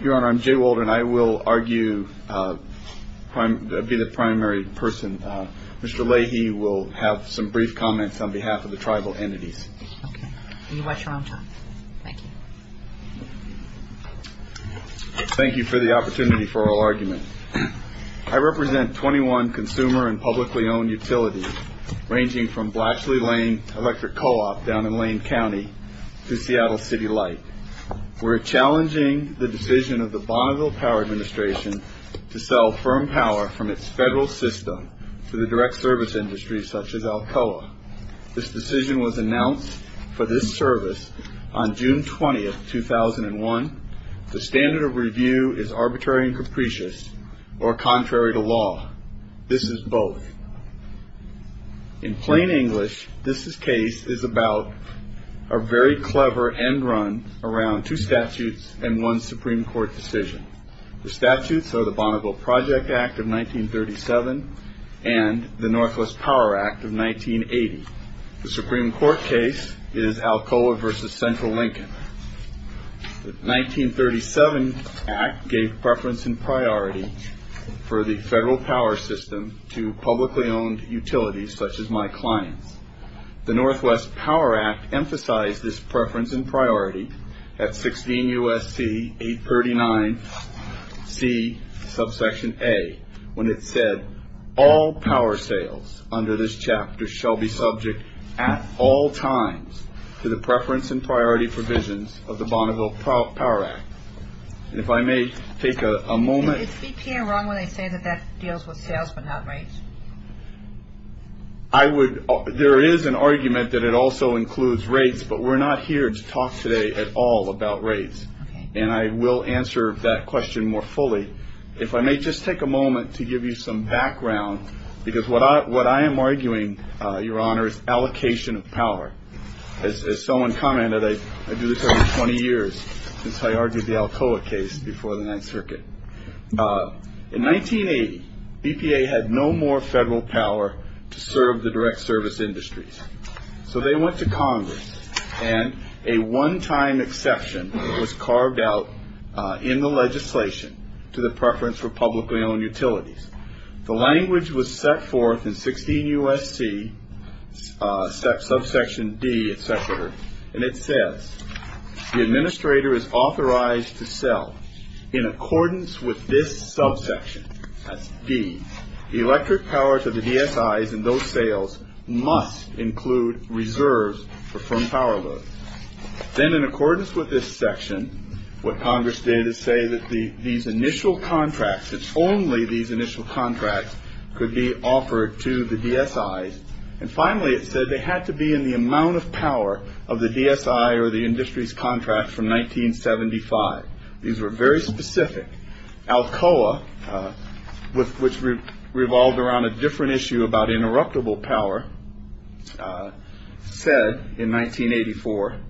Your Honor, I'm Jay Waldron. I will be the primary person. Mr. Leahy will have some brief comments on behalf of the tribal entities. Okay. You watch your own time. Thank you. Thank you for the opportunity for our argument. I represent 21 consumer and publicly owned utilities, ranging from Blachly-Lane Electric Co-op down in Lane County to Seattle City Light. We're challenging the decision of the Bonneville Power Administration to sell firm power from its federal system to the direct service industry, such as Alcoa. This decision was announced for this service on June 20, 2001. The standard of review is arbitrary and capricious, or contrary to law. This is both. In plain English, this case is about a very clever end run around two statutes and one Supreme Court decision. The statutes are the Bonneville Project Act of 1937 and the Northwest Power Act of 1980. The Supreme Court case is Alcoa v. Central Lincoln. The 1937 act gave preference and priority for the federal power system to publicly owned utilities such as my clients. The Northwest Power Act emphasized this preference and priority at 16 U.S.C. 839 C, subsection A, when it said, all power sales under this chapter shall be subject at all times to the preference and priority provisions of the Bonneville Power Act. And if I may take a moment. Is BPA wrong when they say that that deals with sales but not rates? I would. There is an argument that it also includes rates, but we're not here to talk today at all about rates. And I will answer that question more fully if I may just take a moment to give you some background, because what I what I am arguing, Your Honor, is allocation of power. As someone commented, I do this over 20 years since I argued the Alcoa case before the Ninth Circuit. In 1980, BPA had no more federal power to serve the direct service industries. So they went to Congress and a one time exception was carved out in the legislation to the preference for publicly owned utilities. The language was set forth in 16 U.S.C. subsection D, et cetera. And it says the administrator is authorized to sell in accordance with this subsection. The electric power to the DSIs and those sales must include reserves for from power load. Then, in accordance with this section, what Congress did is say that the these initial contracts, it's only these initial contracts could be offered to the DSI. And finally, it said they had to be in the amount of power of the DSI or the industry's contract from 1975. These were very specific. Alcoa, which revolved around a different issue about interruptible power, said in 1984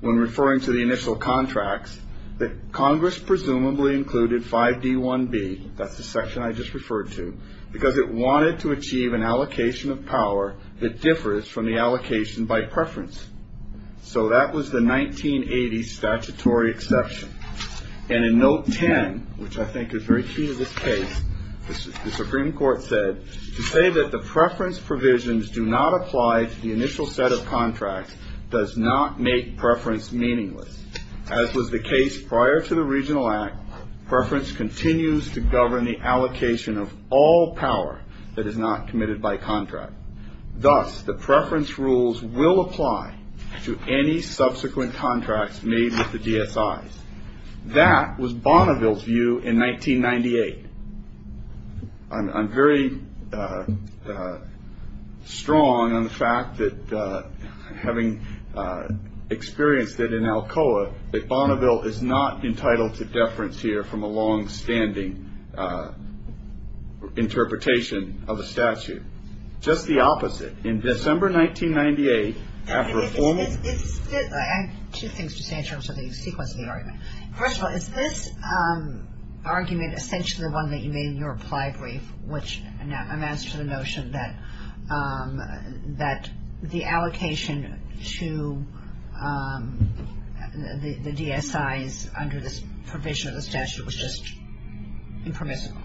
when referring to the initial contracts that Congress presumably included 5D1B. That's the section I just referred to, because it wanted to achieve an allocation of power that differs from the allocation by preference. So that was the 1980 statutory exception. And in note 10, which I think is very key to this case, the Supreme Court said to say that the preference provisions do not apply to the initial set of contracts does not make preference meaningless. As was the case prior to the Regional Act, preference continues to govern the allocation of all power that is not committed by contract. Thus, the preference rules will apply to any subsequent contracts made with the DSI. That was Bonneville's view in 1998. I'm very strong on the fact that having experienced it in Alcoa, that Bonneville is not entitled to deference here from a longstanding interpretation of the statute. Just the opposite. In December 1998, after a formal – I have two things to say in terms of the sequence of the argument. First of all, is this argument essentially the one that you made in your reply brief, which amounts to the notion that the allocation to the DSIs under this provision of the statute was just impermissible?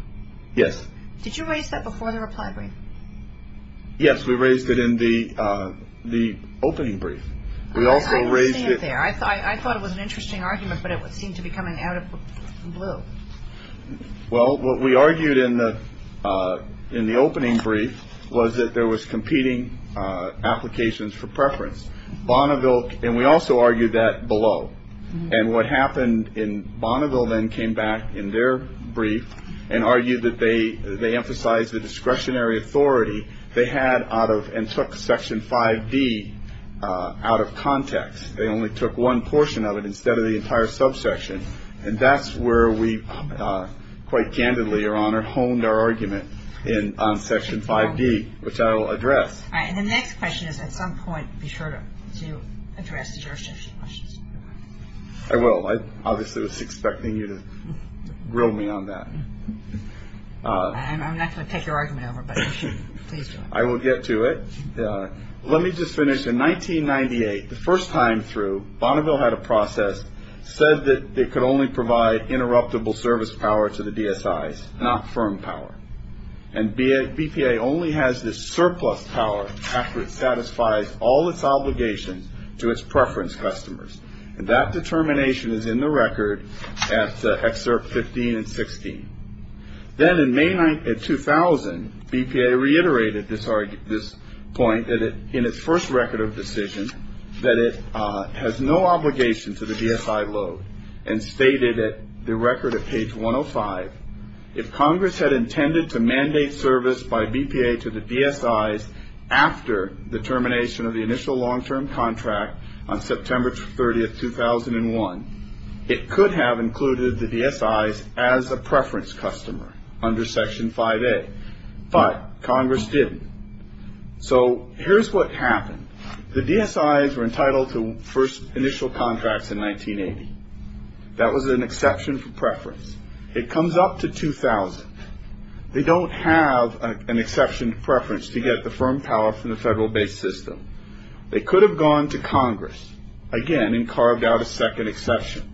Yes. Did you raise that before the reply brief? Yes, we raised it in the opening brief. I was seeing it there. I thought it was an interesting argument, but it seemed to be coming out of the blue. Well, what we argued in the opening brief was that there was competing applications for preference. Bonneville – and we also argued that below. And what happened in Bonneville then came back in their brief and argued that they emphasized the discretionary authority they had out of – and took Section 5D out of context. They only took one portion of it instead of the entire subsection. And that's where we quite candidly, Your Honor, honed our argument on Section 5D, which I will address. All right. And the next question is, at some point, be sure to address the jurisdiction questions. I will. I obviously was expecting you to grill me on that. I'm not going to take your argument over, but you should. Please do. I will get to it. Let me just finish. In 1998, the first time through, Bonneville had a process said that they could only provide interruptible service power to the DSIs, not firm power. And BPA only has this surplus power after it satisfies all its obligations to its preference customers. And that determination is in the record at Excerpt 15 and 16. Then in May 2000, BPA reiterated this point in its first record of decision that it has no obligation to the DSI load and stated at the record at page 105, if Congress had intended to mandate service by BPA to the DSIs after the termination of the initial long-term contract on September 30, 2001, it could have included the DSIs as a preference customer under Section 5A. But Congress didn't. So here's what happened. The DSIs were entitled to first initial contracts in 1980. That was an exception for preference. It comes up to 2000. They don't have an exception preference to get the firm power from the federal-based system. They could have gone to Congress again and carved out a second exception.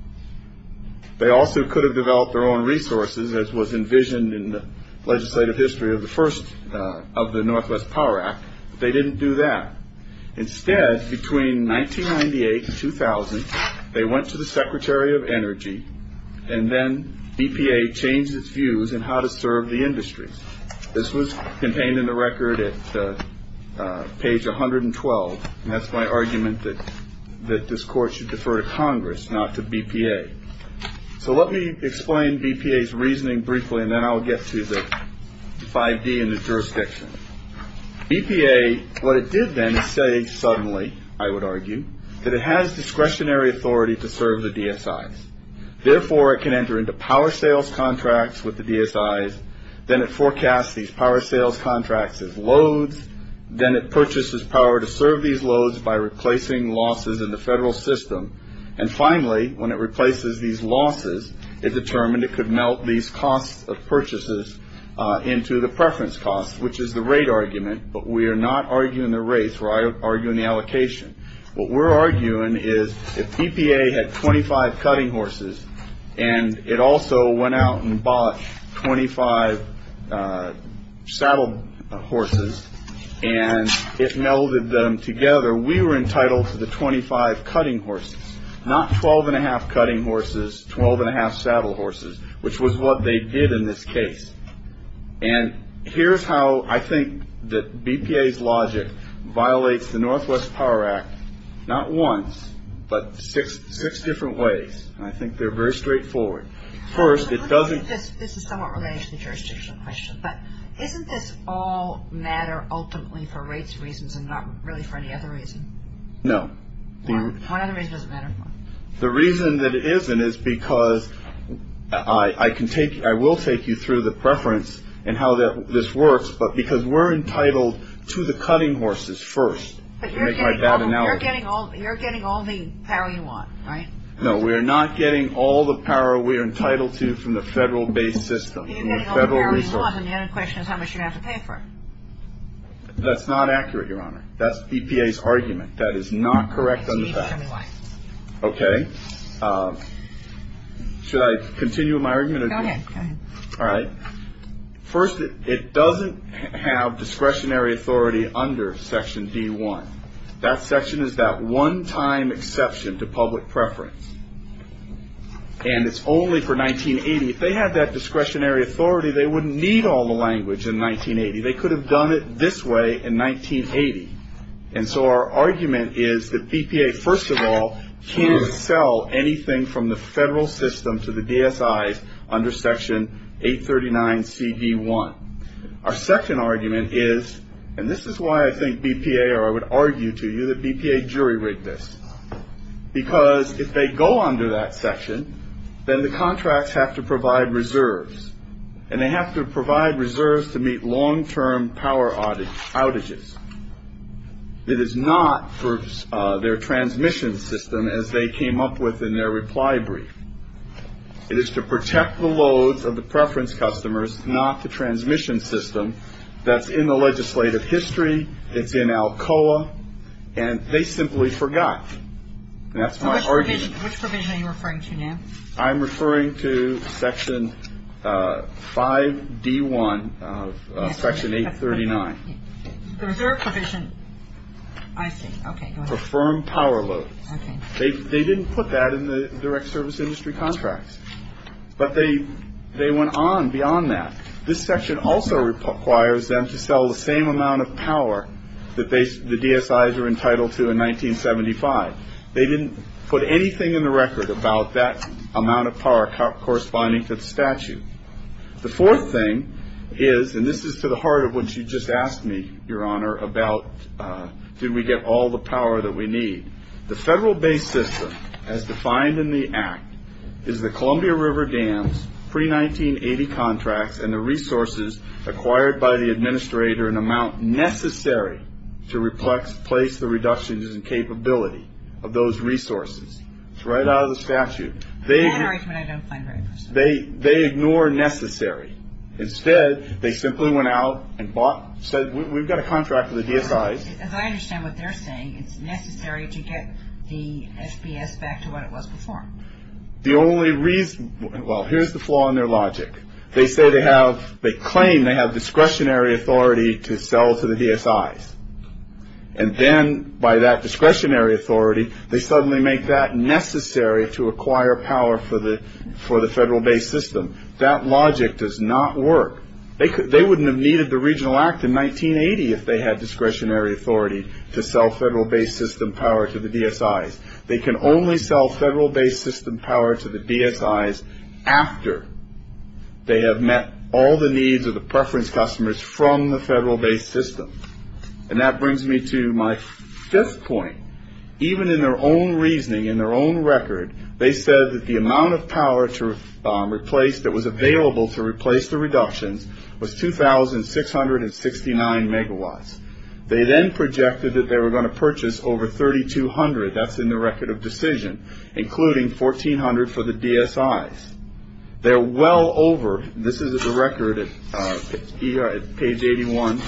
They also could have developed their own resources, as was envisioned in the legislative history of the first of the Northwest Power Act. They didn't do that. Instead, between 1998 and 2000, they went to the Secretary of Energy, and then BPA changed its views on how to serve the industry. This was contained in the record at page 112. And that's my argument that this Court should defer to Congress, not to BPA. So let me explain BPA's reasoning briefly, and then I'll get to the 5D and the jurisdiction. BPA, what it did then is say suddenly, I would argue, that it has discretionary authority to serve the DSIs. Therefore, it can enter into power sales contracts with the DSIs. Then it forecasts these power sales contracts as loads. Then it purchases power to serve these loads by replacing losses in the federal system. And finally, when it replaces these losses, it determined it could melt these costs of purchases into the preference costs, which is the rate argument. But we are not arguing the rates. We're arguing the allocation. What we're arguing is if BPA had 25 cutting horses, and it also went out and bought 25 saddle horses, and it melded them together, we were entitled to the 25 cutting horses, not 12 1⁄2 cutting horses, 12 1⁄2 saddle horses, which was what they did in this case. And here's how I think that BPA's logic violates the Northwest Power Act. Not once, but six different ways, and I think they're very straightforward. First, it doesn't... This is somewhat related to the jurisdictional question, but isn't this all matter ultimately for rates reasons and not really for any other reason? No. One other reason doesn't matter? The reason that it isn't is because I can take... I will take you through the preference and how this works, but because we're entitled to the cutting horses first, to make my bad analogy. But you're getting all the power you want, right? No, we are not getting all the power we are entitled to from the federal-based system, from the federal resources. You're getting all the power you want, and the only question is how much you're going to have to pay for it. That's not accurate, Your Honor. That's BPA's argument. That is not correct on the facts. Tell me why. Okay. Should I continue my argument? Go ahead. All right. First, it doesn't have discretionary authority under Section D1. That section is that one-time exception to public preference, and it's only for 1980. If they had that discretionary authority, they wouldn't need all the language in 1980. They could have done it this way in 1980. And so our argument is that BPA, first of all, can't sell anything from the federal system to the DSIs under Section 839CD1. Our second argument is, and this is why I think BPA or I would argue to you that BPA jury-rigged this, because if they go under that section, then the contracts have to provide reserves, and they have to provide reserves to meet long-term power outages. It is not for their transmission system, as they came up with in their reply brief. It is to protect the loads of the preference customers, not the transmission system. That's in the legislative history. It's in ALCOA. And they simply forgot, and that's my argument. Which provision are you referring to now? I'm referring to Section 5D1 of Section 839. The reserve provision. I see. Okay, go ahead. For firm power loads. Okay. They didn't put that in the direct service industry contracts. But they went on beyond that. This section also requires them to sell the same amount of power that the DSIs were entitled to in 1975. They didn't put anything in the record about that amount of power corresponding to the statute. The fourth thing is, and this is to the heart of what you just asked me, Your Honor, about did we get all the power that we need. The federal-based system, as defined in the Act, is the Columbia River dams, pre-1980 contracts, and the resources acquired by the administrator an amount necessary to replace the reductions in capability of those resources. It's right out of the statute. That argument I don't find very persuasive. They ignore necessary. Instead, they simply went out and bought, said we've got a contract with the DSIs. As I understand what they're saying, it's necessary to get the SPS back to what it was before. The only reason, well, here's the flaw in their logic. They say they have, they claim they have discretionary authority to sell to the DSIs. And then by that discretionary authority, they suddenly make that necessary to acquire power for the federal-based system. That logic does not work. They wouldn't have needed the Regional Act in 1980 if they had discretionary authority to sell federal-based system power to the DSIs. They can only sell federal-based system power to the DSIs after they have met all the needs of the preference customers from the federal-based system. And that brings me to my fifth point. Even in their own reasoning, in their own record, they said that the amount of power to replace that was available to replace the reductions was 2,669 megawatts. They then projected that they were going to purchase over 3,200. That's in the record of decision, including 1,400 for the DSIs. They're well over. This is the record at page 81,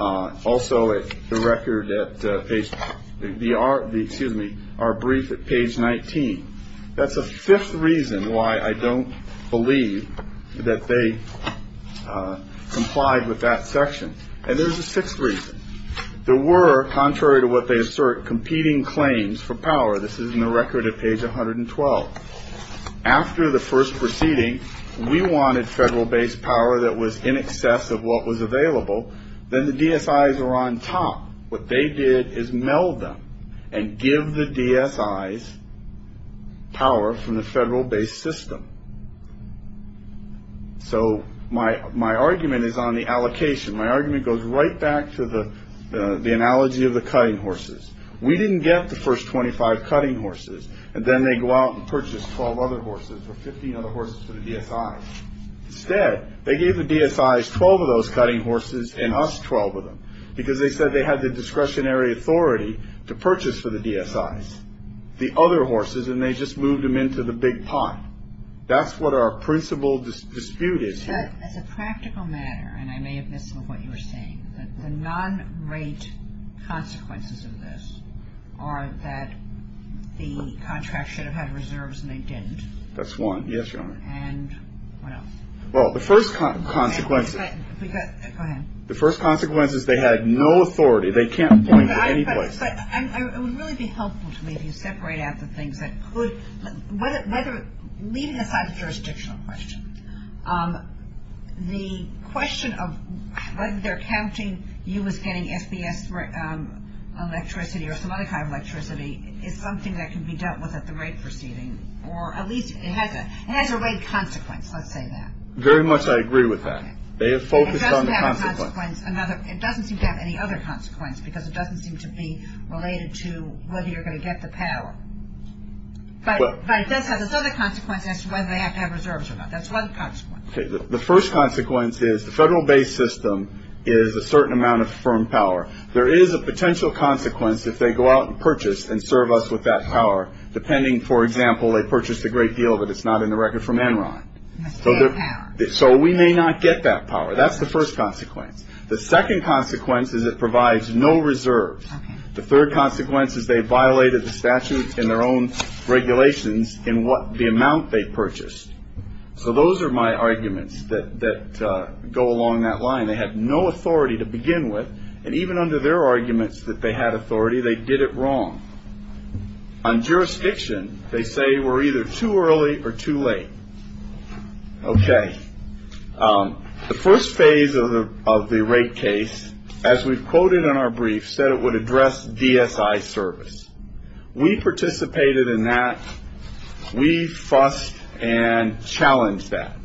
also the record at page, excuse me, our brief at page 19. That's a fifth reason why I don't believe that they complied with that section. And there's a sixth reason. There were, contrary to what they assert, competing claims for power. This is in the record at page 112. After the first proceeding, we wanted federal-based power that was in excess of what was available. Then the DSIs were on top. What they did is meld them and give the DSIs power from the federal-based system. So my argument is on the allocation. My argument goes right back to the analogy of the cutting horses. We didn't get the first 25 cutting horses, and then they go out and purchase 12 other horses or 15 other horses for the DSIs. Instead, they gave the DSIs 12 of those cutting horses and us 12 of them, because they said they had the discretionary authority to purchase for the DSIs the other horses, and they just moved them into the big pot. That's what our principal dispute is here. As a practical matter, and I may have missed some of what you were saying, the non-rate consequences of this are that the contract should have had reserves and they didn't. That's one. Yes, Your Honor. And what else? Well, the first consequence is they had no authority. They can't point to any place. It would really be helpful to me if you separate out the things that could, leaving aside the jurisdictional question, the question of whether they're counting you as getting SBS electricity or some other kind of electricity is something that can be dealt with at the rate proceeding, or at least it has a rate consequence, let's say that. Very much I agree with that. They have focused on the consequence. It doesn't seem to have any other consequence, because it doesn't seem to be related to whether you're going to get the power. But it does have another consequence as to whether they have to have reserves or not. That's one consequence. Okay. The first consequence is the federal base system is a certain amount of firm power. There is a potential consequence if they go out and purchase and serve us with that power, depending, for example, they purchased a great deal of it, it's not in the record from Enron. So we may not get that power. That's the first consequence. The second consequence is it provides no reserves. The third consequence is they violated the statute in their own regulations in what the amount they purchased. So those are my arguments that that go along that line. They have no authority to begin with. And even under their arguments that they had authority, they did it wrong on jurisdiction. They say we're either too early or too late. Okay. The first phase of the rate case, as we've quoted in our brief, said it would address DSI service. We participated in that. We fussed and challenged that.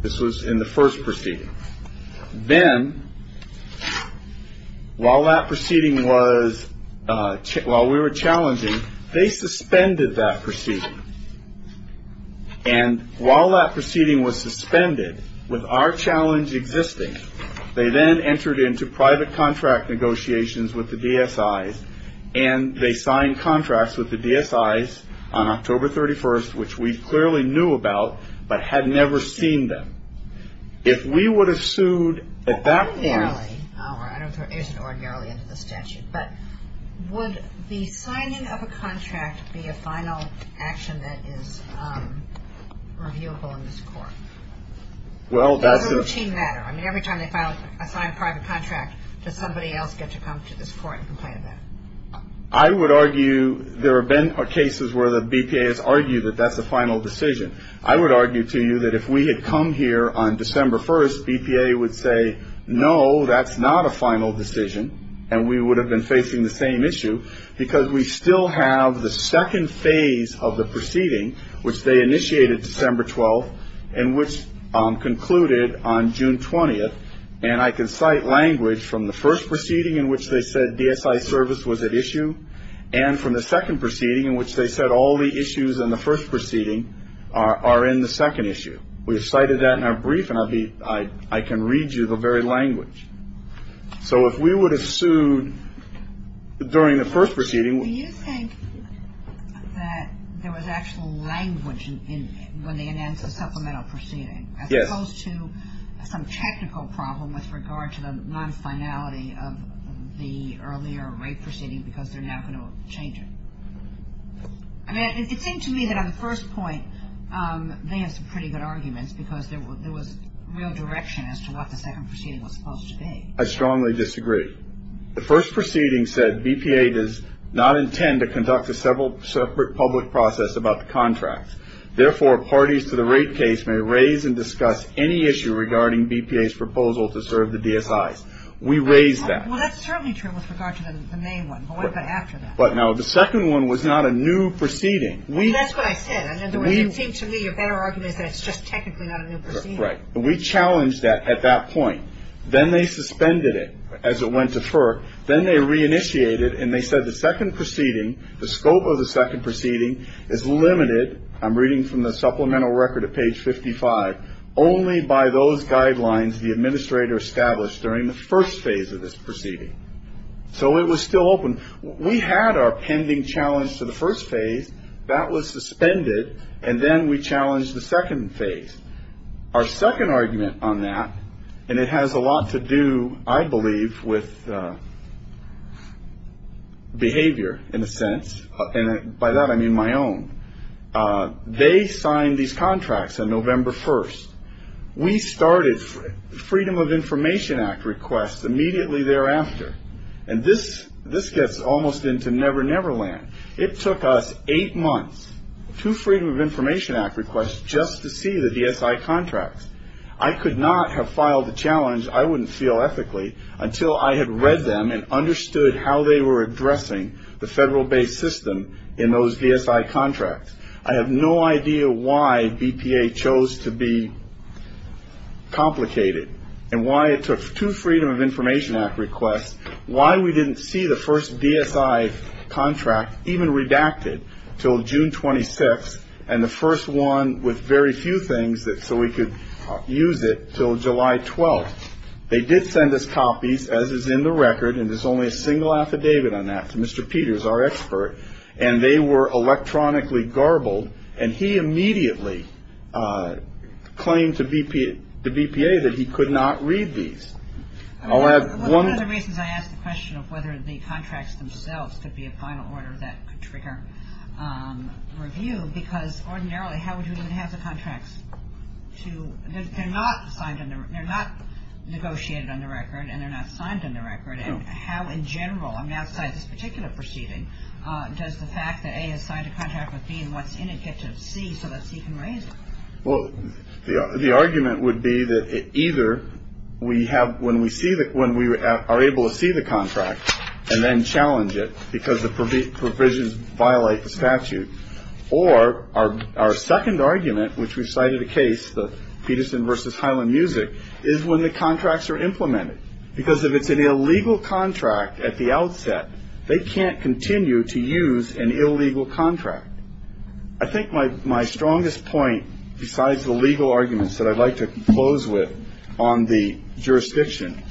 This was in the first proceeding. Then while that proceeding was ‑‑ while we were challenging, they suspended that proceeding. And while that proceeding was suspended, with our challenge existing, they then entered into private contract negotiations with the DSIs, and they signed contracts with the DSIs on October 31st, which we clearly knew about but had never seen them. If we would have sued at that point ‑‑ Ordinarily. I don't know if it isn't ordinarily under the statute. But would the signing of a contract be a final action that is reviewable in this court? Well, that's a ‑‑ Or is it a routine matter? I mean, every time they sign a private contract, does somebody else get to come to this court and complain about it? I would argue there have been cases where the BPA has argued that that's a final decision. I would argue to you that if we had come here on December 1st, BPA would say, no, that's not a final decision, and we would have been facing the same issue because we still have the second phase of the proceeding, which they initiated December 12th and which concluded on June 20th. And I can cite language from the first proceeding in which they said DSI service was at issue and from the second proceeding in which they said all the issues in the first proceeding are in the second issue. We have cited that in our brief, and I can read you the very language. So if we would have sued during the first proceeding ‑‑ Do you think that there was actual language when they announced the supplemental proceeding? Yes. As opposed to some technical problem with regard to the nonfinality of the earlier rate proceeding because they're now going to change it. I mean, it seemed to me that on the first point they had some pretty good arguments because there was real direction as to what the second proceeding was supposed to be. I strongly disagree. The first proceeding said BPA does not intend to conduct a separate public process about the contract. Therefore, parties to the rate case may raise and discuss any issue regarding BPA's proposal to serve the DSIs. We raised that. Well, that's certainly true with regard to the main one. But what about after that? Now, the second one was not a new proceeding. That's what I said. In other words, it seemed to me a better argument is that it's just technically not a new proceeding. Right. We challenged that at that point. Then they suspended it as it went to FERC. Then they reinitiated and they said the second proceeding, the scope of the second proceeding is limited. I'm reading from the supplemental record at page 55. Only by those guidelines the administrator established during the first phase of this proceeding. So it was still open. We had our pending challenge to the first phase. That was suspended. And then we challenged the second phase. Our second argument on that, and it has a lot to do, I believe, with behavior in a sense. And by that I mean my own. They signed these contracts on November 1st. We started Freedom of Information Act requests immediately thereafter. And this gets almost into Never Never Land. It took us eight months, two Freedom of Information Act requests, just to see the DSI contracts. I could not have filed the challenge, I wouldn't feel ethically, until I had read them and understood how they were addressing the federal-based system in those DSI contracts. I have no idea why BPA chose to be complicated and why it took two Freedom of Information Act requests, why we didn't see the first DSI contract even redacted until June 26th, and the first one with very few things so we could use it until July 12th. They did send us copies, as is in the record, and there's only a single affidavit on that to Mr. Peters, our expert, and they were electronically garbled. And he immediately claimed to BPA that he could not read these. One of the reasons I ask the question of whether the contracts themselves could be a final order that could trigger review, because ordinarily how would you even have the contracts? They're not negotiated on the record and they're not signed on the record. And how in general, outside this particular proceeding, does the fact that A has signed a contract with B and what's in it get to C so that C can raise it? Well, the argument would be that either when we are able to see the contract and then challenge it because the provisions violate the statute, or our second argument, which we cited a case, the Peterson v. Highland Music, is when the contracts are implemented. Because if it's an illegal contract at the outset, they can't continue to use an illegal contract. I think my strongest point, besides the legal arguments that I'd like to close with on the jurisdiction,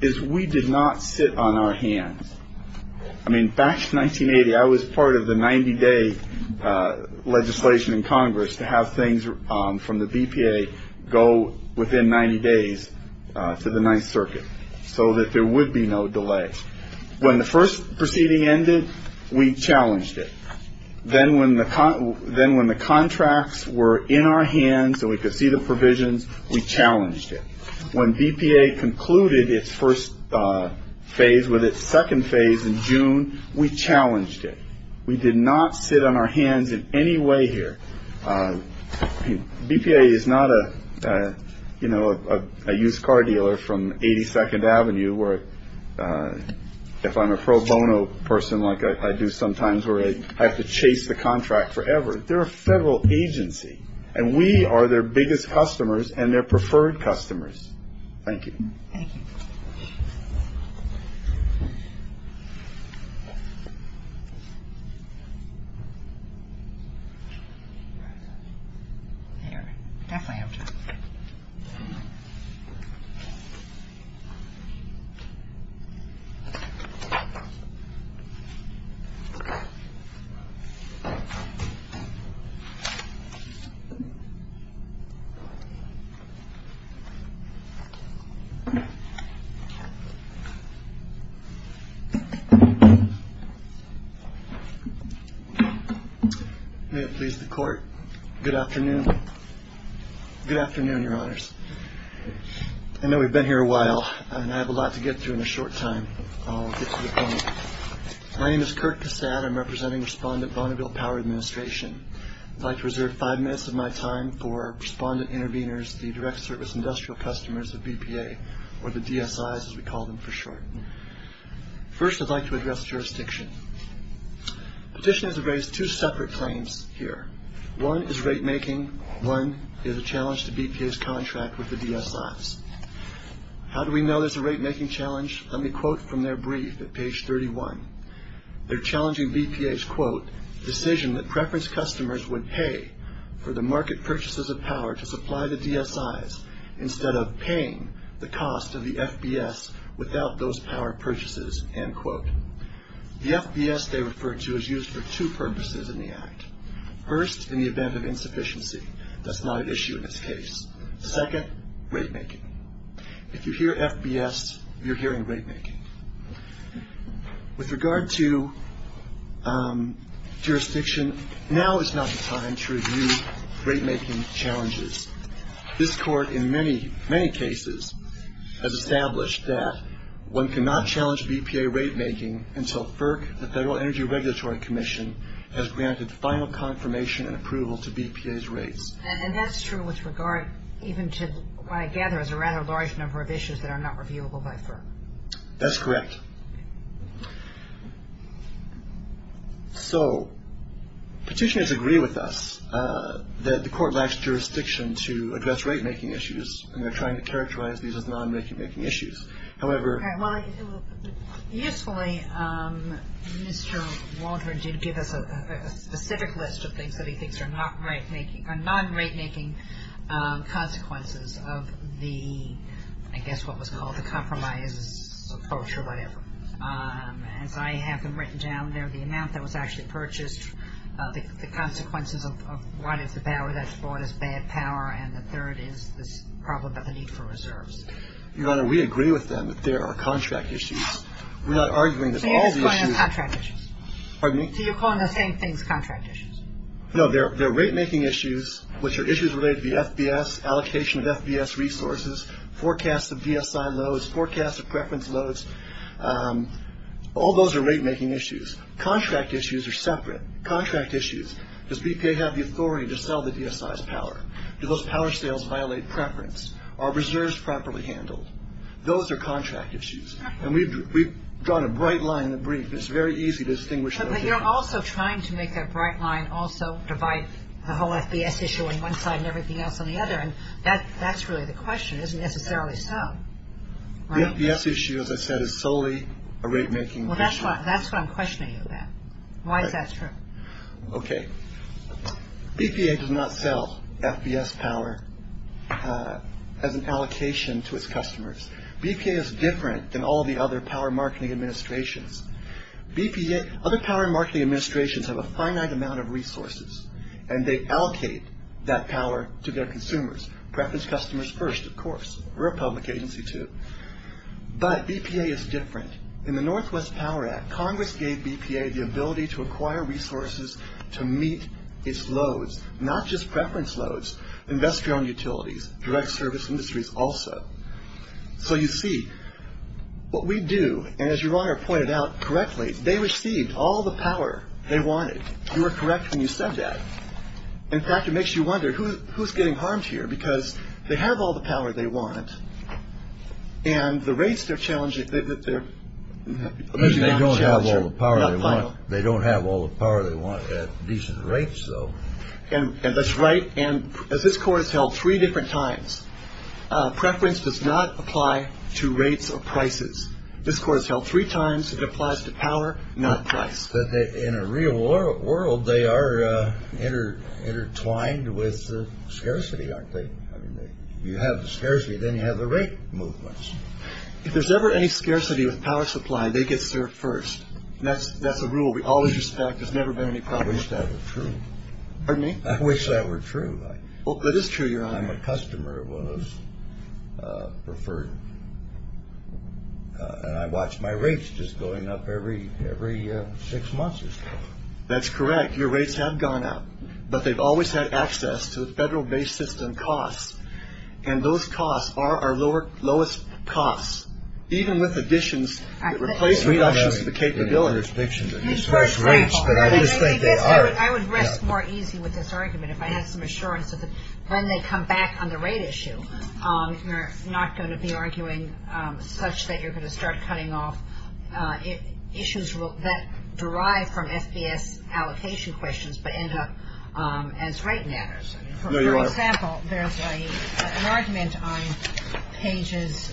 is we did not sit on our hands. I mean, back to 1980, I was part of the 90-day legislation in Congress to have things from the BPA go within 90 days to the Ninth Circuit so that there would be no delay. When the first proceeding ended, we challenged it. Then when the contracts were in our hands so we could see the provisions, we challenged it. When BPA concluded its first phase with its second phase in June, we challenged it. We did not sit on our hands in any way here. BPA is not a used car dealer from 82nd Avenue where, if I'm a pro bono person like I do sometimes, where I have to chase the contract forever. They're a federal agency, and we are their biggest customers and their preferred customers. Thank you. Thank you. All right. There. Definitely have time. May it please the court. Good afternoon. Good afternoon, Your Honors. I know we've been here a while, and I have a lot to get to in a short time. I'll get to the point. My name is Kirk Cassatt. I'm representing Respondent Bonneville Power Administration. I'd like to reserve five minutes of my time for Respondent Intervenors, the Direct Service Industrial Customers of BPA, or the DSIs as we call them for short. First, I'd like to address jurisdiction. Petitioners have raised two separate claims here. One is rate making. One is a challenge to BPA's contract with the DSIs. How do we know there's a rate making challenge? Let me quote from their brief at page 31. They're challenging BPA's, quote, decision that preference customers would pay for the market purchases of power to supply the DSIs instead of paying the cost of the FBS without those power purchases, end quote. The FBS they refer to is used for two purposes in the Act. First, in the event of insufficiency. That's not an issue in this case. Second, rate making. If you hear FBS, you're hearing rate making. With regard to jurisdiction, now is not the time to review rate making challenges. This Court in many, many cases has established that one cannot challenge BPA rate making until FERC, the Federal Energy Regulatory Commission, has granted final confirmation and approval to BPA's rates. And that's true with regard even to what I gather is a rather large number of issues that are not reviewable by FERC. That's correct. So petitioners agree with us that the Court lacks jurisdiction to address rate making issues and they're trying to characterize these as non-rate making issues. However- All right. Well, usefully, Mr. Walter did give us a specific list of things that he thinks are not rate making or non-rate making consequences of the, I guess what was called the compromise approach or whatever. As I have them written down there, the amount that was actually purchased, the consequences of what is the power that's brought us bad power, and the third is this problem about the need for reserves. Your Honor, we agree with them that there are contract issues. We're not arguing that all the issues- So you're just calling them contract issues? Pardon me? So you're calling the same things contract issues? No, they're rate making issues, which are issues related to the FBS, allocation of FBS resources, forecasts of DSI loads, forecasts of preference loads. All those are rate making issues. Contract issues are separate. Contract issues. Does BPA have the authority to sell the DSI's power? Do those power sales violate preference? Are reserves properly handled? Those are contract issues. And we've drawn a bright line in the brief. It's very easy to distinguish- But you're also trying to make that bright line also divide the whole FBS issue on one side and everything else on the other. And that's really the question. It isn't necessarily so. The FBS issue, as I said, is solely a rate making issue. Well, that's what I'm questioning you about. Why is that true? Okay. BPA does not sell FBS power as an allocation to its customers. BPA is different than all the other power marketing administrations. Other power marketing administrations have a finite amount of resources, and they allocate that power to their consumers. Preference customers first, of course. We're a public agency, too. But BPA is different. In the Northwest Power Act, Congress gave BPA the ability to acquire resources to meet its loads, not just preference loads, industrial and utilities, direct service industries also. So you see, what we do, and as your Honor pointed out correctly, they received all the power they wanted. You were correct when you said that. In fact, it makes you wonder, who's getting harmed here? Because they have all the power they want, and the rates they're challenging, they're losing out on the challenger. They don't have all the power they want at decent rates, though. And that's right. And as this Court has held three different times, preference does not apply to rates or prices. This Court has held three times it applies to power, not price. In a real world, they are intertwined with scarcity, aren't they? You have the scarcity, then you have the rate movements. If there's ever any scarcity with power supply, they get served first. That's a rule we always respect. There's never been any problem. I wish that were true. Pardon me? I wish that were true. Well, it is true, Your Honor. I'm a customer of one of those preferred. And I watch my rates just going up every six months or so. That's correct. Your rates have gone up. But they've always had access to the federal-based system costs. And those costs are our lowest costs, even with additions that replace reductions of the capability. I would rest more easy with this argument if I had some assurance that when they come back on the rate issue, you're not going to be arguing such that you're going to start cutting off issues that derive from SBS allocation questions, but end up as rate matters. No, Your Honor. For example, there's an argument on Pages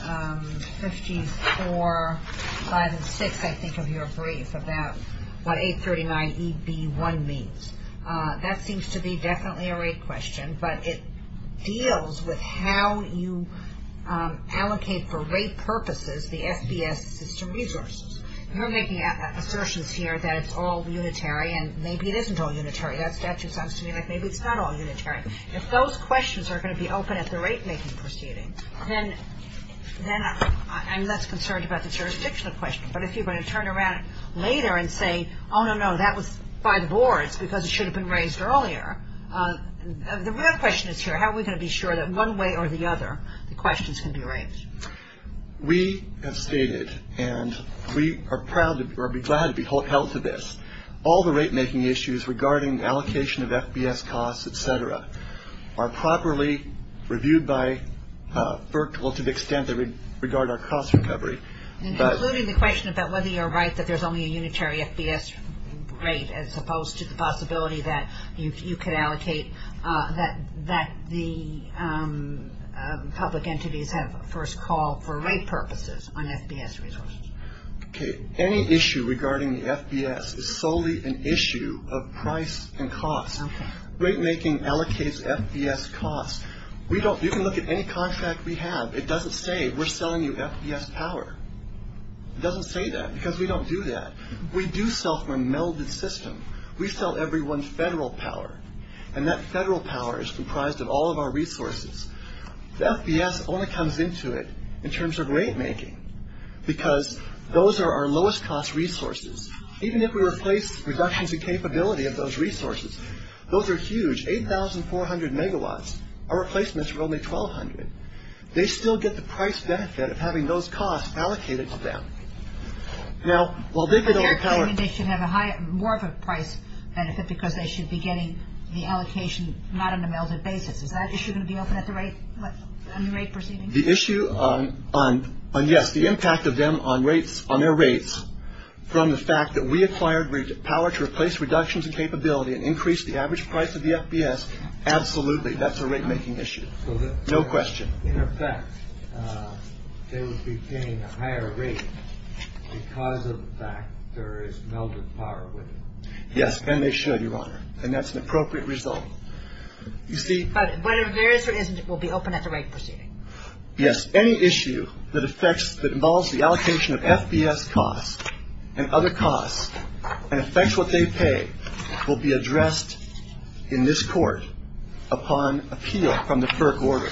54, 5, and 6, I think, of your brief about what 839EB1 means. That seems to be definitely a rate question, but it deals with how you allocate for rate purposes the SBS system resources. You're making assertions here that it's all unitary, and maybe it isn't all unitary. That statute sounds to me like maybe it's not all unitary. If those questions are going to be open at the rate-making proceeding, then I'm less concerned about the jurisdictional question. But if you're going to turn around later and say, oh, no, no, that was by the boards because it should have been raised earlier, the real question is here, how are we going to be sure that one way or the other the questions can be raised? We have stated, and we are glad to be held to this, all the rate-making issues regarding allocation of SBS costs, et cetera, are properly reviewed by FERC to the extent they regard our cost recovery. And concluding the question about whether you're right that there's only a unitary SBS rate as opposed to the possibility that you could allocate, that the public entities have first called for rate purposes on SBS resources. Okay. Any issue regarding the SBS is solely an issue of price and cost. Okay. Rate-making allocates SBS costs. You can look at any contract we have. It doesn't say we're selling you SBS power. It doesn't say that because we don't do that. We do sell from a melded system. We sell everyone federal power, and that federal power is comprised of all of our resources. The SBS only comes into it in terms of rate-making because those are our lowest-cost resources. Even if we replace reductions in capability of those resources, those are huge, 8,400 megawatts. Our replacements are only 1,200. They still get the price benefit of having those costs allocated to them. Now, while they could overpower it. You're saying they should have more of a price benefit because they should be getting the allocation not on a melded basis. Is that issue going to be open at the rate proceeding? The issue on, yes, the impact of them on rates, on their rates, from the fact that we acquired power to replace reductions in capability and increase the average price of the SBS, absolutely, that's a rate-making issue. No question. In effect, they would be paying a higher rate because of the fact there is melded power with it. Yes, and they should, Your Honor, and that's an appropriate result. But whether there is or isn't, it will be open at the rate proceeding. Yes. Any issue that affects, that involves the allocation of SBS costs and other costs and affects what they pay will be addressed in this court upon appeal from the FERC order.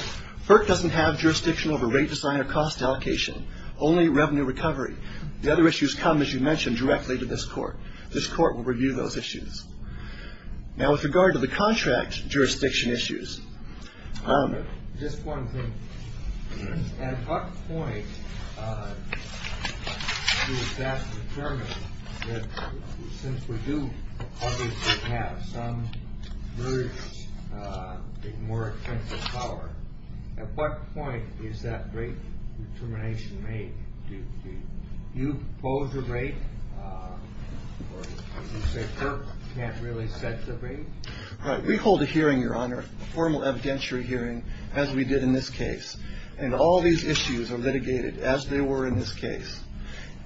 FERC doesn't have jurisdiction over rate design or cost allocation, only revenue recovery. The other issues come, as you mentioned, directly to this court. This court will review those issues. Now, with regard to the contract jurisdiction issues. Just one thing. At what point does that determine that since we do obviously have some very big, more expensive power, at what point is that rate determination made? Do you oppose the rate? Or would you say FERC can't really set the rate? We hold a hearing, Your Honor, a formal evidentiary hearing, as we did in this case. And all these issues are litigated as they were in this case.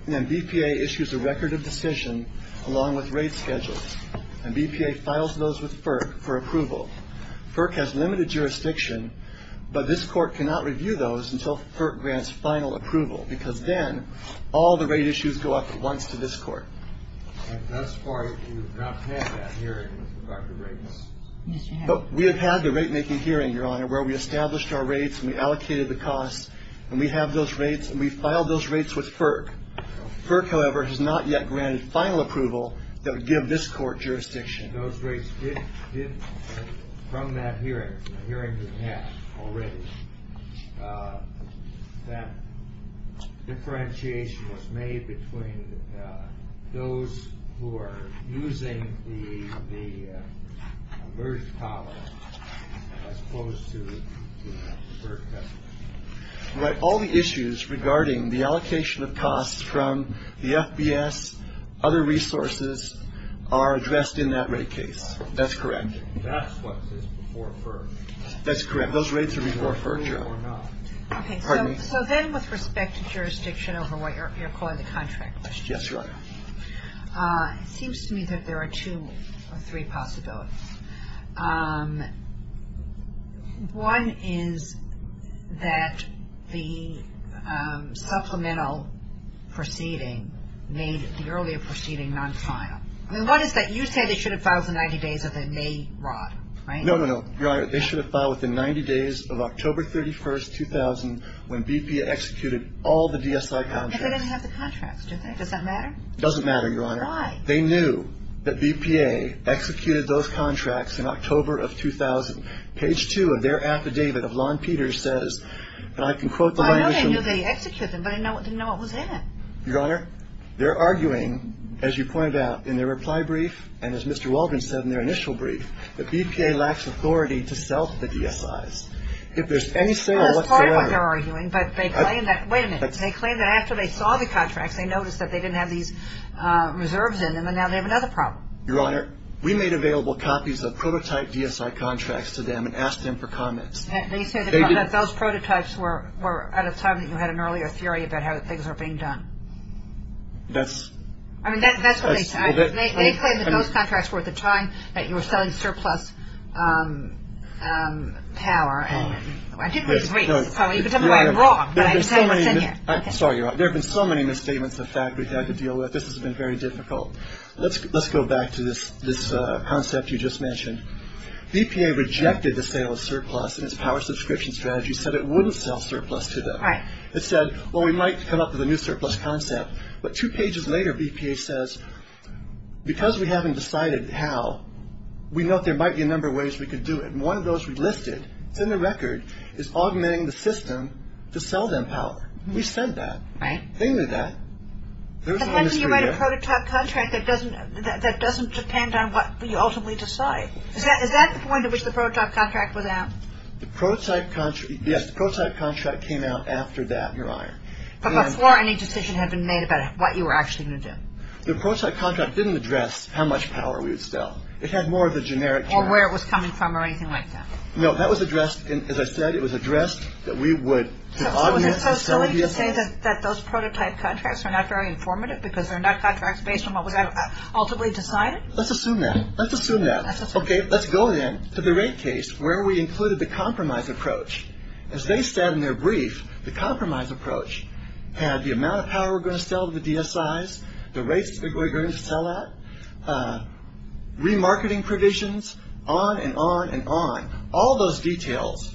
And then BPA issues a record of decision along with rate schedules. And BPA files those with FERC for approval. FERC has limited jurisdiction, but this court cannot review those until FERC grants final approval, because then all the rate issues go up at once to this court. And thus far, you have not had that hearing with regard to rates. We have had the rate-making hearing, Your Honor, where we established our rates, and we allocated the costs, and we have those rates, and we filed those rates with FERC. FERC, however, has not yet granted final approval that would give this court jurisdiction. And those rates did, from that hearing, from the hearing we had already, that differentiation was made between those who are using the merged tolerance as opposed to FERC customers. But all the issues regarding the allocation of costs from the FBS, other resources, are addressed in that rate case. That's correct. That's what is before FERC. That's correct. Those rates are before FERC, Your Honor. Okay. Pardon me. So then with respect to jurisdiction over what you're calling the contract. Yes, Your Honor. It seems to me that there are two or three possibilities. One is that the supplemental proceeding made the earlier proceeding non-final. I mean, what is that? You say they should have filed within 90 days of the May rod, right? No, no, no, Your Honor. They should have filed within 90 days of October 31, 2000, when BPA executed all the DSI contracts. And they didn't have the contracts, did they? Does that matter? It doesn't matter, Your Honor. Why? They knew that BPA executed those contracts in October of 2000. Page 2 of their affidavit of Lon Peters says, and I can quote the violation. I know they knew they executed them, but I didn't know what was in it. Your Honor, they're arguing, as you pointed out in their reply brief, and as Mr. Waldron said in their initial brief, that BPA lacks authority to sell to the DSIs. If there's any sale, what's there? That's part of what they're arguing, but they claim that. Wait a minute. Your Honor, we made available copies of prototype DSI contracts to them and asked them for comments. They said that those prototypes were at a time that you had an earlier theory about how things were being done. That's. I mean, that's what they said. They claimed that those contracts were at the time that you were selling surplus power. I didn't read the brief, so you could tell me why I'm wrong, but I didn't say what's in it. Sorry, Your Honor. There have been so many misstatements of fact we've had to deal with. This has been very difficult. Let's go back to this concept you just mentioned. BPA rejected the sale of surplus in its power subscription strategy, said it wouldn't sell surplus to them. Right. It said, well, we might come up with a new surplus concept. But two pages later, BPA says, because we haven't decided how, we know there might be a number of ways we could do it. And one of those we've listed, it's in the record, is augmenting the system to sell them power. We've said that. Right. They knew that. But how can you write a prototype contract that doesn't depend on what you ultimately decide? Is that the point at which the prototype contract was out? Yes, the prototype contract came out after that, Your Honor. But before any decision had been made about what you were actually going to do. The prototype contract didn't address how much power we would sell. It had more of a generic. Or where it was coming from or anything like that. No, that was addressed, as I said, it was addressed that we would augment to sell BPA. Are you saying that those prototype contracts are not very informative because they're not contracts based on what was ultimately decided? Let's assume that. Let's assume that. Okay. Let's go then to the rate case where we included the compromise approach. As they said in their brief, the compromise approach had the amount of power we were going to sell to the DSIs, the rates that we were going to sell at, remarketing provisions, on and on and on. All those details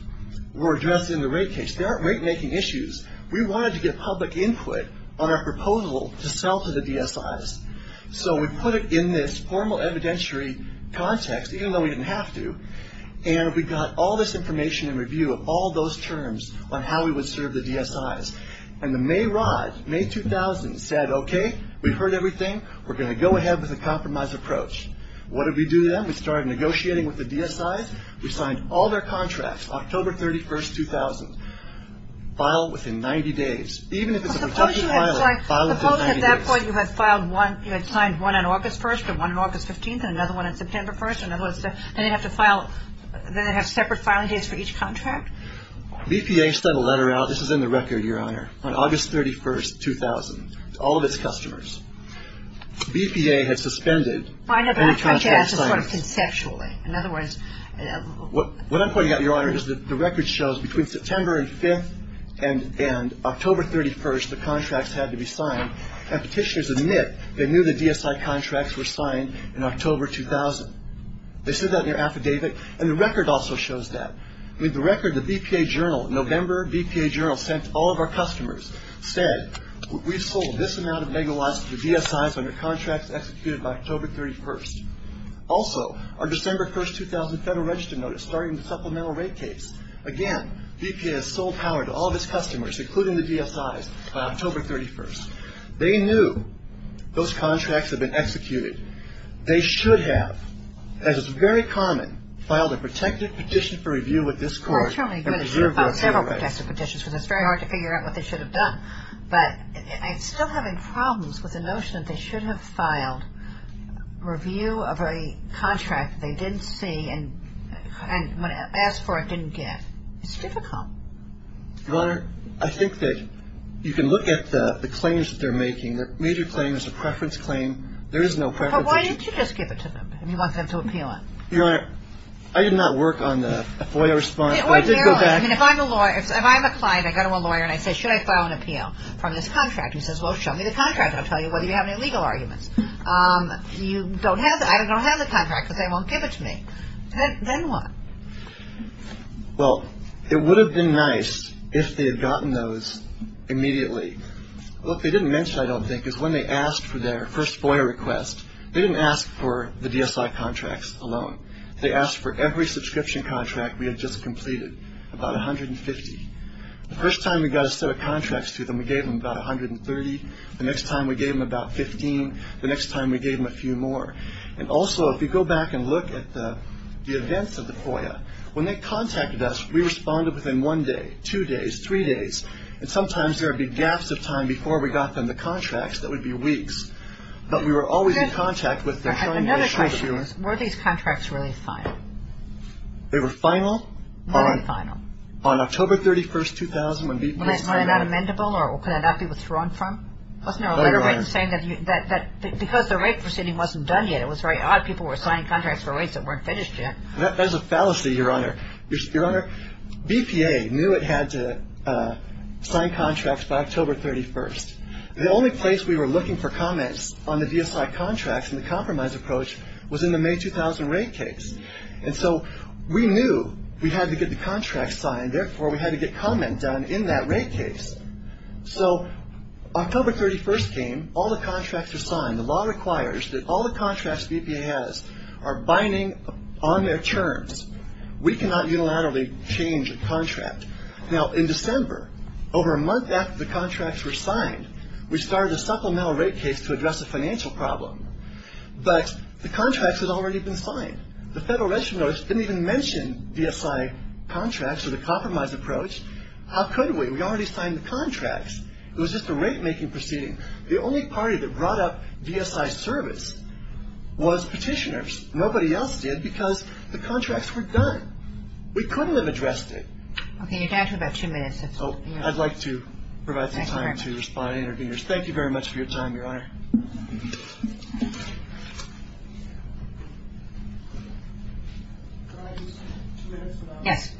were addressed in the rate case. There aren't rate making issues. We wanted to get public input on our proposal to sell to the DSIs. So we put it in this formal evidentiary context, even though we didn't have to, and we got all this information and review of all those terms on how we would serve the DSIs. And the May rod, May 2000, said, okay, we've heard everything. We're going to go ahead with the compromise approach. What did we do then? We started negotiating with the DSIs. We signed all their contracts, October 31st, 2000, filed within 90 days. Even if it's a rejected filing, file within 90 days. Suppose at that point you had signed one on August 1st and one on August 15th and another one on September 1st and then they have separate filing days for each contract? BPA sent a letter out. This is in the record, Your Honor, on August 31st, 2000, to all of its customers. BPA had suspended any contract signing. In other words, what I'm pointing out, Your Honor, is that the record shows between September and 5th and October 31st the contracts had to be signed, and Petitioners admit they knew the DSI contracts were signed in October 2000. They said that in their affidavit, and the record also shows that. The record, the BPA Journal, November BPA Journal, sent to all of our customers, said we've sold this amount of megawatts to the DSIs under contracts executed by October 31st. Also, our December 1st, 2000 Federal Register Notice starting the supplemental rate case. Again, BPA has sold power to all of its customers, including the DSIs, by October 31st. They knew those contracts had been executed. They should have, as is very common, filed a protective petition for review with this court. Unfortunately, they should have filed several protective petitions because it's very hard to figure out what they should have done. But I'm still having problems with the notion that they should have filed review of a contract they didn't see and asked for it didn't get. It's difficult. Your Honor, I think that you can look at the claims that they're making. The major claim is a preference claim. There is no preference. But why didn't you just give it to them? You want them to appeal it. Your Honor, I did not work on the FOIA response, but I did go back. If I'm a client, I go to a lawyer, and I say, should I file an appeal from this contract? He says, well, show me the contract, and I'll tell you whether you have any legal arguments. I don't have the contract, but they won't give it to me. Then what? Well, it would have been nice if they had gotten those immediately. What they didn't mention, I don't think, is when they asked for their first FOIA request, they didn't ask for the DSI contracts alone. They asked for every subscription contract we had just completed, about 150. The first time we got a set of contracts to them, we gave them about 130. The next time we gave them about 15. The next time we gave them a few more. And also, if you go back and look at the events of the FOIA, when they contacted us, we responded within one day, two days, three days. And sometimes there would be gaps of time before we got them the contracts. That would be weeks. But we were always in contact with them. Another question is, were these contracts really final? They were final on October 31, 2000. Was that not amendable or could that not be withdrawn from? Wasn't there a letter written saying that because the rate proceeding wasn't done yet, it was very odd people were signing contracts for rates that weren't finished yet? That is a fallacy, Your Honor. Your Honor, BPA knew it had to sign contracts by October 31st. The only place we were looking for comments on the VSI contracts and the compromise approach was in the May 2000 rate case. And so we knew we had to get the contracts signed. Therefore, we had to get comment done in that rate case. So October 31st came, all the contracts were signed. The law requires that all the contracts BPA has are binding on their terms. We cannot unilaterally change a contract. Now, in December, over a month after the contracts were signed, we started a supplemental rate case to address a financial problem. But the contracts had already been signed. The Federal Register notice didn't even mention VSI contracts or the compromise approach. How could we? We already signed the contracts. It was just a rate-making proceeding. The only party that brought up VSI service was petitioners. Nobody else did because the contracts were done. We couldn't have addressed it. Okay. You have about two minutes. I'd like to provide some time to respond to the interviewers. Thank you very much for your time, Your Honor. Yes.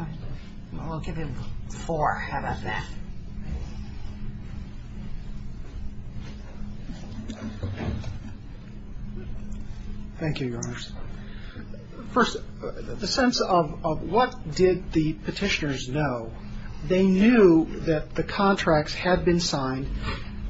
We'll give him four. How about that? Thank you, Your Honor. First, the sense of what did the petitioners know. They knew that the contracts had been signed.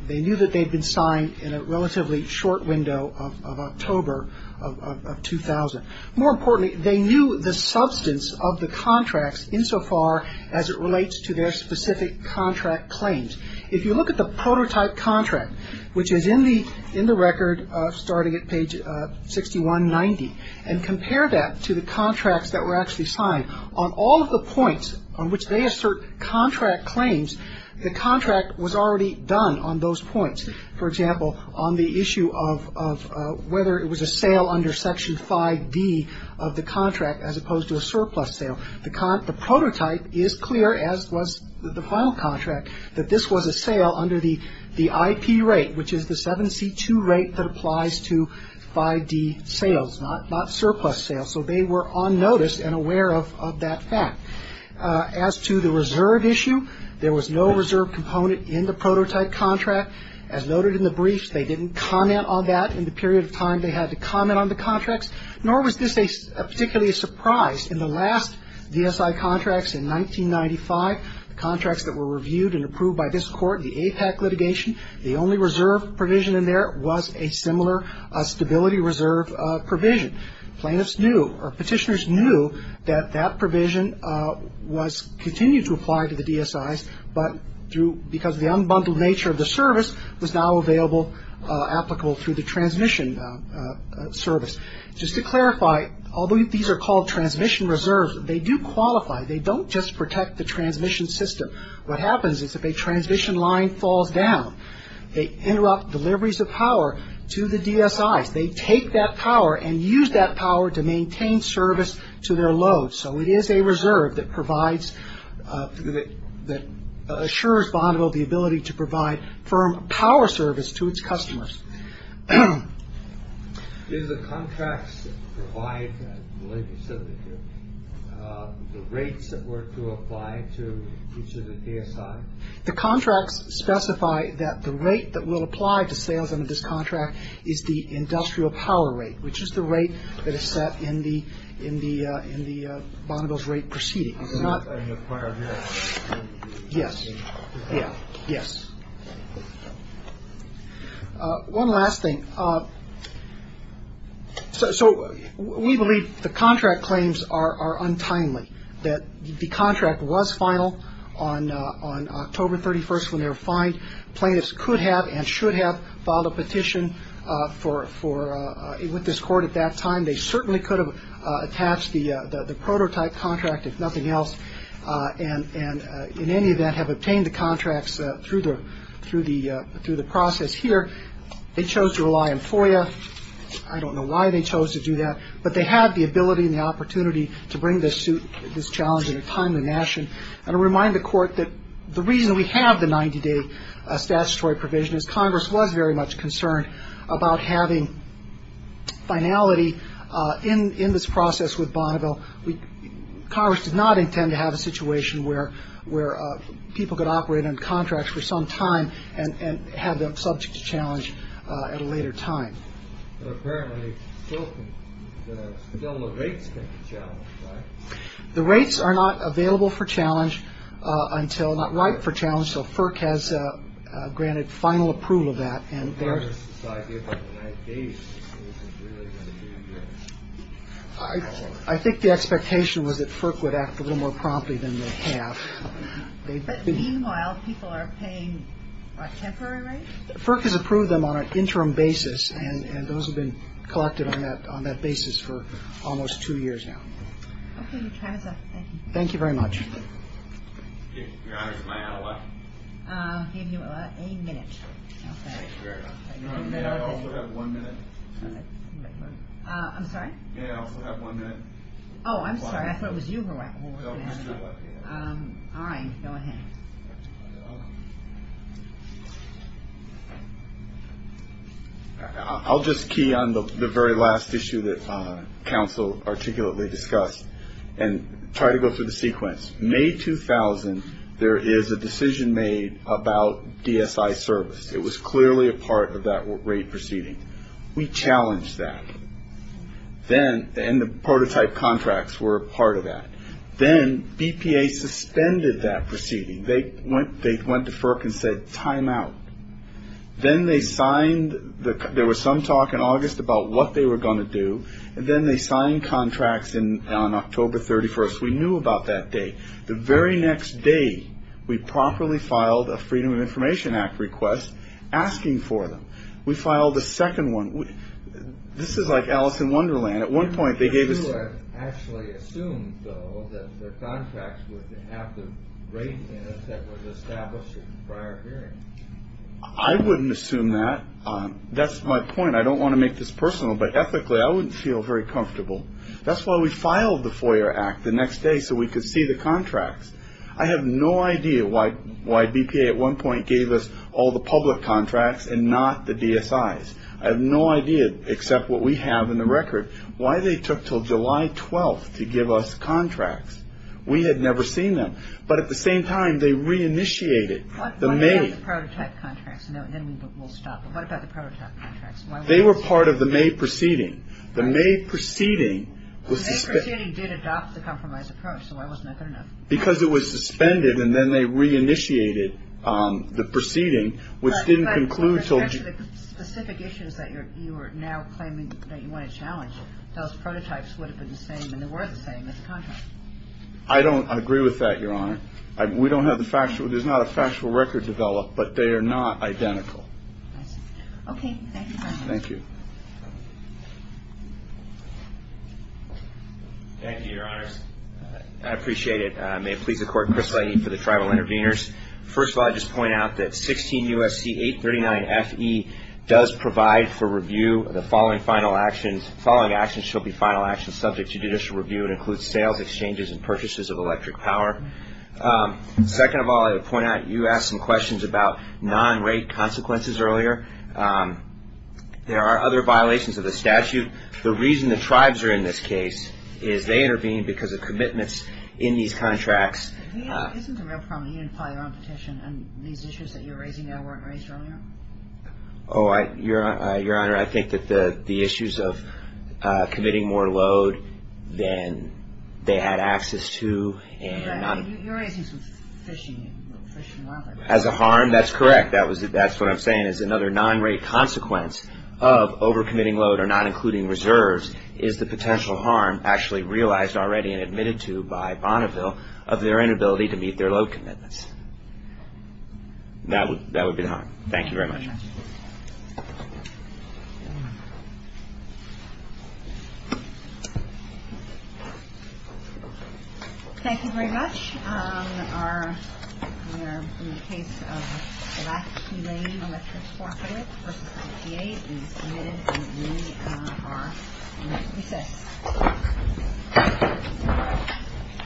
They knew that they'd been signed in a relatively short window of October of 2000. More importantly, they knew the substance of the contracts insofar as it relates to their specific contract claims. If you look at the prototype contract, which is in the record starting at page 6190, and compare that to the contracts that were actually signed, on all of the points on which they assert contract claims, the contract was already done on those points. For example, on the issue of whether it was a sale under Section 5D of the contract as opposed to a surplus sale. The prototype is clear, as was the final contract, that this was a sale under the IP rate, which is the 7C2 rate that applies to 5D sales, not surplus sales. So they were on notice and aware of that fact. As to the reserve issue, there was no reserve component in the prototype contract. As noted in the brief, they didn't comment on that in the period of time they had to comment on the contracts, nor was this particularly a surprise. In the last DSI contracts in 1995, the contracts that were reviewed and approved by this Court, the APAC litigation, the only reserve provision in there was a similar stability reserve provision. Plaintiffs knew or Petitioners knew that that provision was continued to apply to the DSIs, but because of the unbundled nature of the service, was now available, applicable through the transmission service. Just to clarify, although these are called transmission reserves, they do qualify. They don't just protect the transmission system. What happens is if a transmission line falls down, they interrupt deliveries of power to the DSIs. They take that power and use that power to maintain service to their load. So it is a reserve that provides, that assures Bonneville the ability to provide firm power service to its customers. Is the contracts that provide the rates that were to apply to each of the DSIs? The contracts specify that the rate that will apply to sales under this contract is the industrial power rate, which is the rate that is set in the Bonneville's rate proceeding. Yes. Yeah. Yes. One last thing. So we believe the contract claims are untimely, that the contract was final on October 31st when they were fined. Plaintiffs could have and should have filed a petition for, with this court at that time. They certainly could have attached the prototype contract, if nothing else, and in any event have obtained the contracts through the process here. They chose to rely on FOIA. I don't know why they chose to do that, but they have the ability and the opportunity to bring this challenge in a timely fashion. I want to remind the Court that the reason we have the 90-day statutory provision is Congress was very much concerned about having finality in this process with Bonneville. Congress did not intend to have a situation where people could operate on contracts for some time and have them subject to challenge at a later time. But apparently still the rates can be challenged, right? The rates are not available for challenge until, not right for challenge. So FERC has granted final approval of that. I think the expectation was that FERC would act a little more promptly than they have. But meanwhile, people are paying a temporary rate? FERC has approved them on an interim basis, and those have been collected on that basis for almost two years now. Okay. Thank you. Thank you very much. Your Honor, is my hour up? A minute. Okay. May I also have one minute? I'm sorry? May I also have one minute? Oh, I'm sorry. I thought it was you who were going to ask a question. All right. Go ahead. I'll just key on the very last issue that counsel articulately discussed and try to go through the sequence. May 2000, there is a decision made about DSI service. It was clearly a part of that rate proceeding. We challenged that. And the prototype contracts were a part of that. Then BPA suspended that proceeding. They went to FERC and said, time out. Then they signed, there was some talk in August about what they were going to do, and then they signed contracts on October 31st. We knew about that date. The very next day, we properly filed a Freedom of Information Act request asking for them. We filed a second one. This is like Alice in Wonderland. And at one point, they gave us You actually assumed, though, that the contracts would have the rate in it that was established in prior hearings. I wouldn't assume that. That's my point. I don't want to make this personal, but ethically, I wouldn't feel very comfortable. That's why we filed the FOIA Act the next day so we could see the contracts. I have no idea why BPA at one point gave us all the public contracts and not the DSIs. I have no idea, except what we have in the record, why they took until July 12th to give us contracts. We had never seen them. But at the same time, they reinitiated the May. What about the prototype contracts? And then we'll stop. But what about the prototype contracts? They were part of the May proceeding. The May proceeding was suspended. The May proceeding did adopt the compromise approach, so why wasn't that good enough? Because it was suspended, and then they reinitiated the proceeding, which didn't conclude until Actually, the specific issues that you are now claiming that you want to challenge, those prototypes would have been the same, and they were the same as the contracts. I don't agree with that, Your Honor. We don't have the factual. There's not a factual record developed, but they are not identical. I see. Okay. Thank you, Your Honor. Thank you. Thank you, Your Honors. I appreciate it. May it please the Court, Chris Leighton for the Tribal Interveners. First of all, I'd just point out that 16 U.S.C. 839-FE does provide for review of the following final actions. The following actions shall be final actions subject to judicial review. It includes sales, exchanges, and purchases of electric power. Second of all, I would point out you asked some questions about non-rate consequences earlier. There are other violations of the statute. The reason the tribes are in this case is they intervened because of commitments in these contracts. Isn't the real problem that you didn't file your own petition, and these issues that you're raising now weren't raised earlier? Oh, Your Honor, I think that the issues of committing more load than they had access to and not – Right. You're raising some fishing and fishing water. As a harm, that's correct. That's what I'm saying is another non-rate consequence of over-committing load or not including reserves is the potential harm actually realized already and admitted to by Bonneville of their inability to meet their load commitments. That would be the harm. Thank you very much. Thank you very much. We are in the case of black humane electric forfeit versus IPA. It is admitted that we are in recess.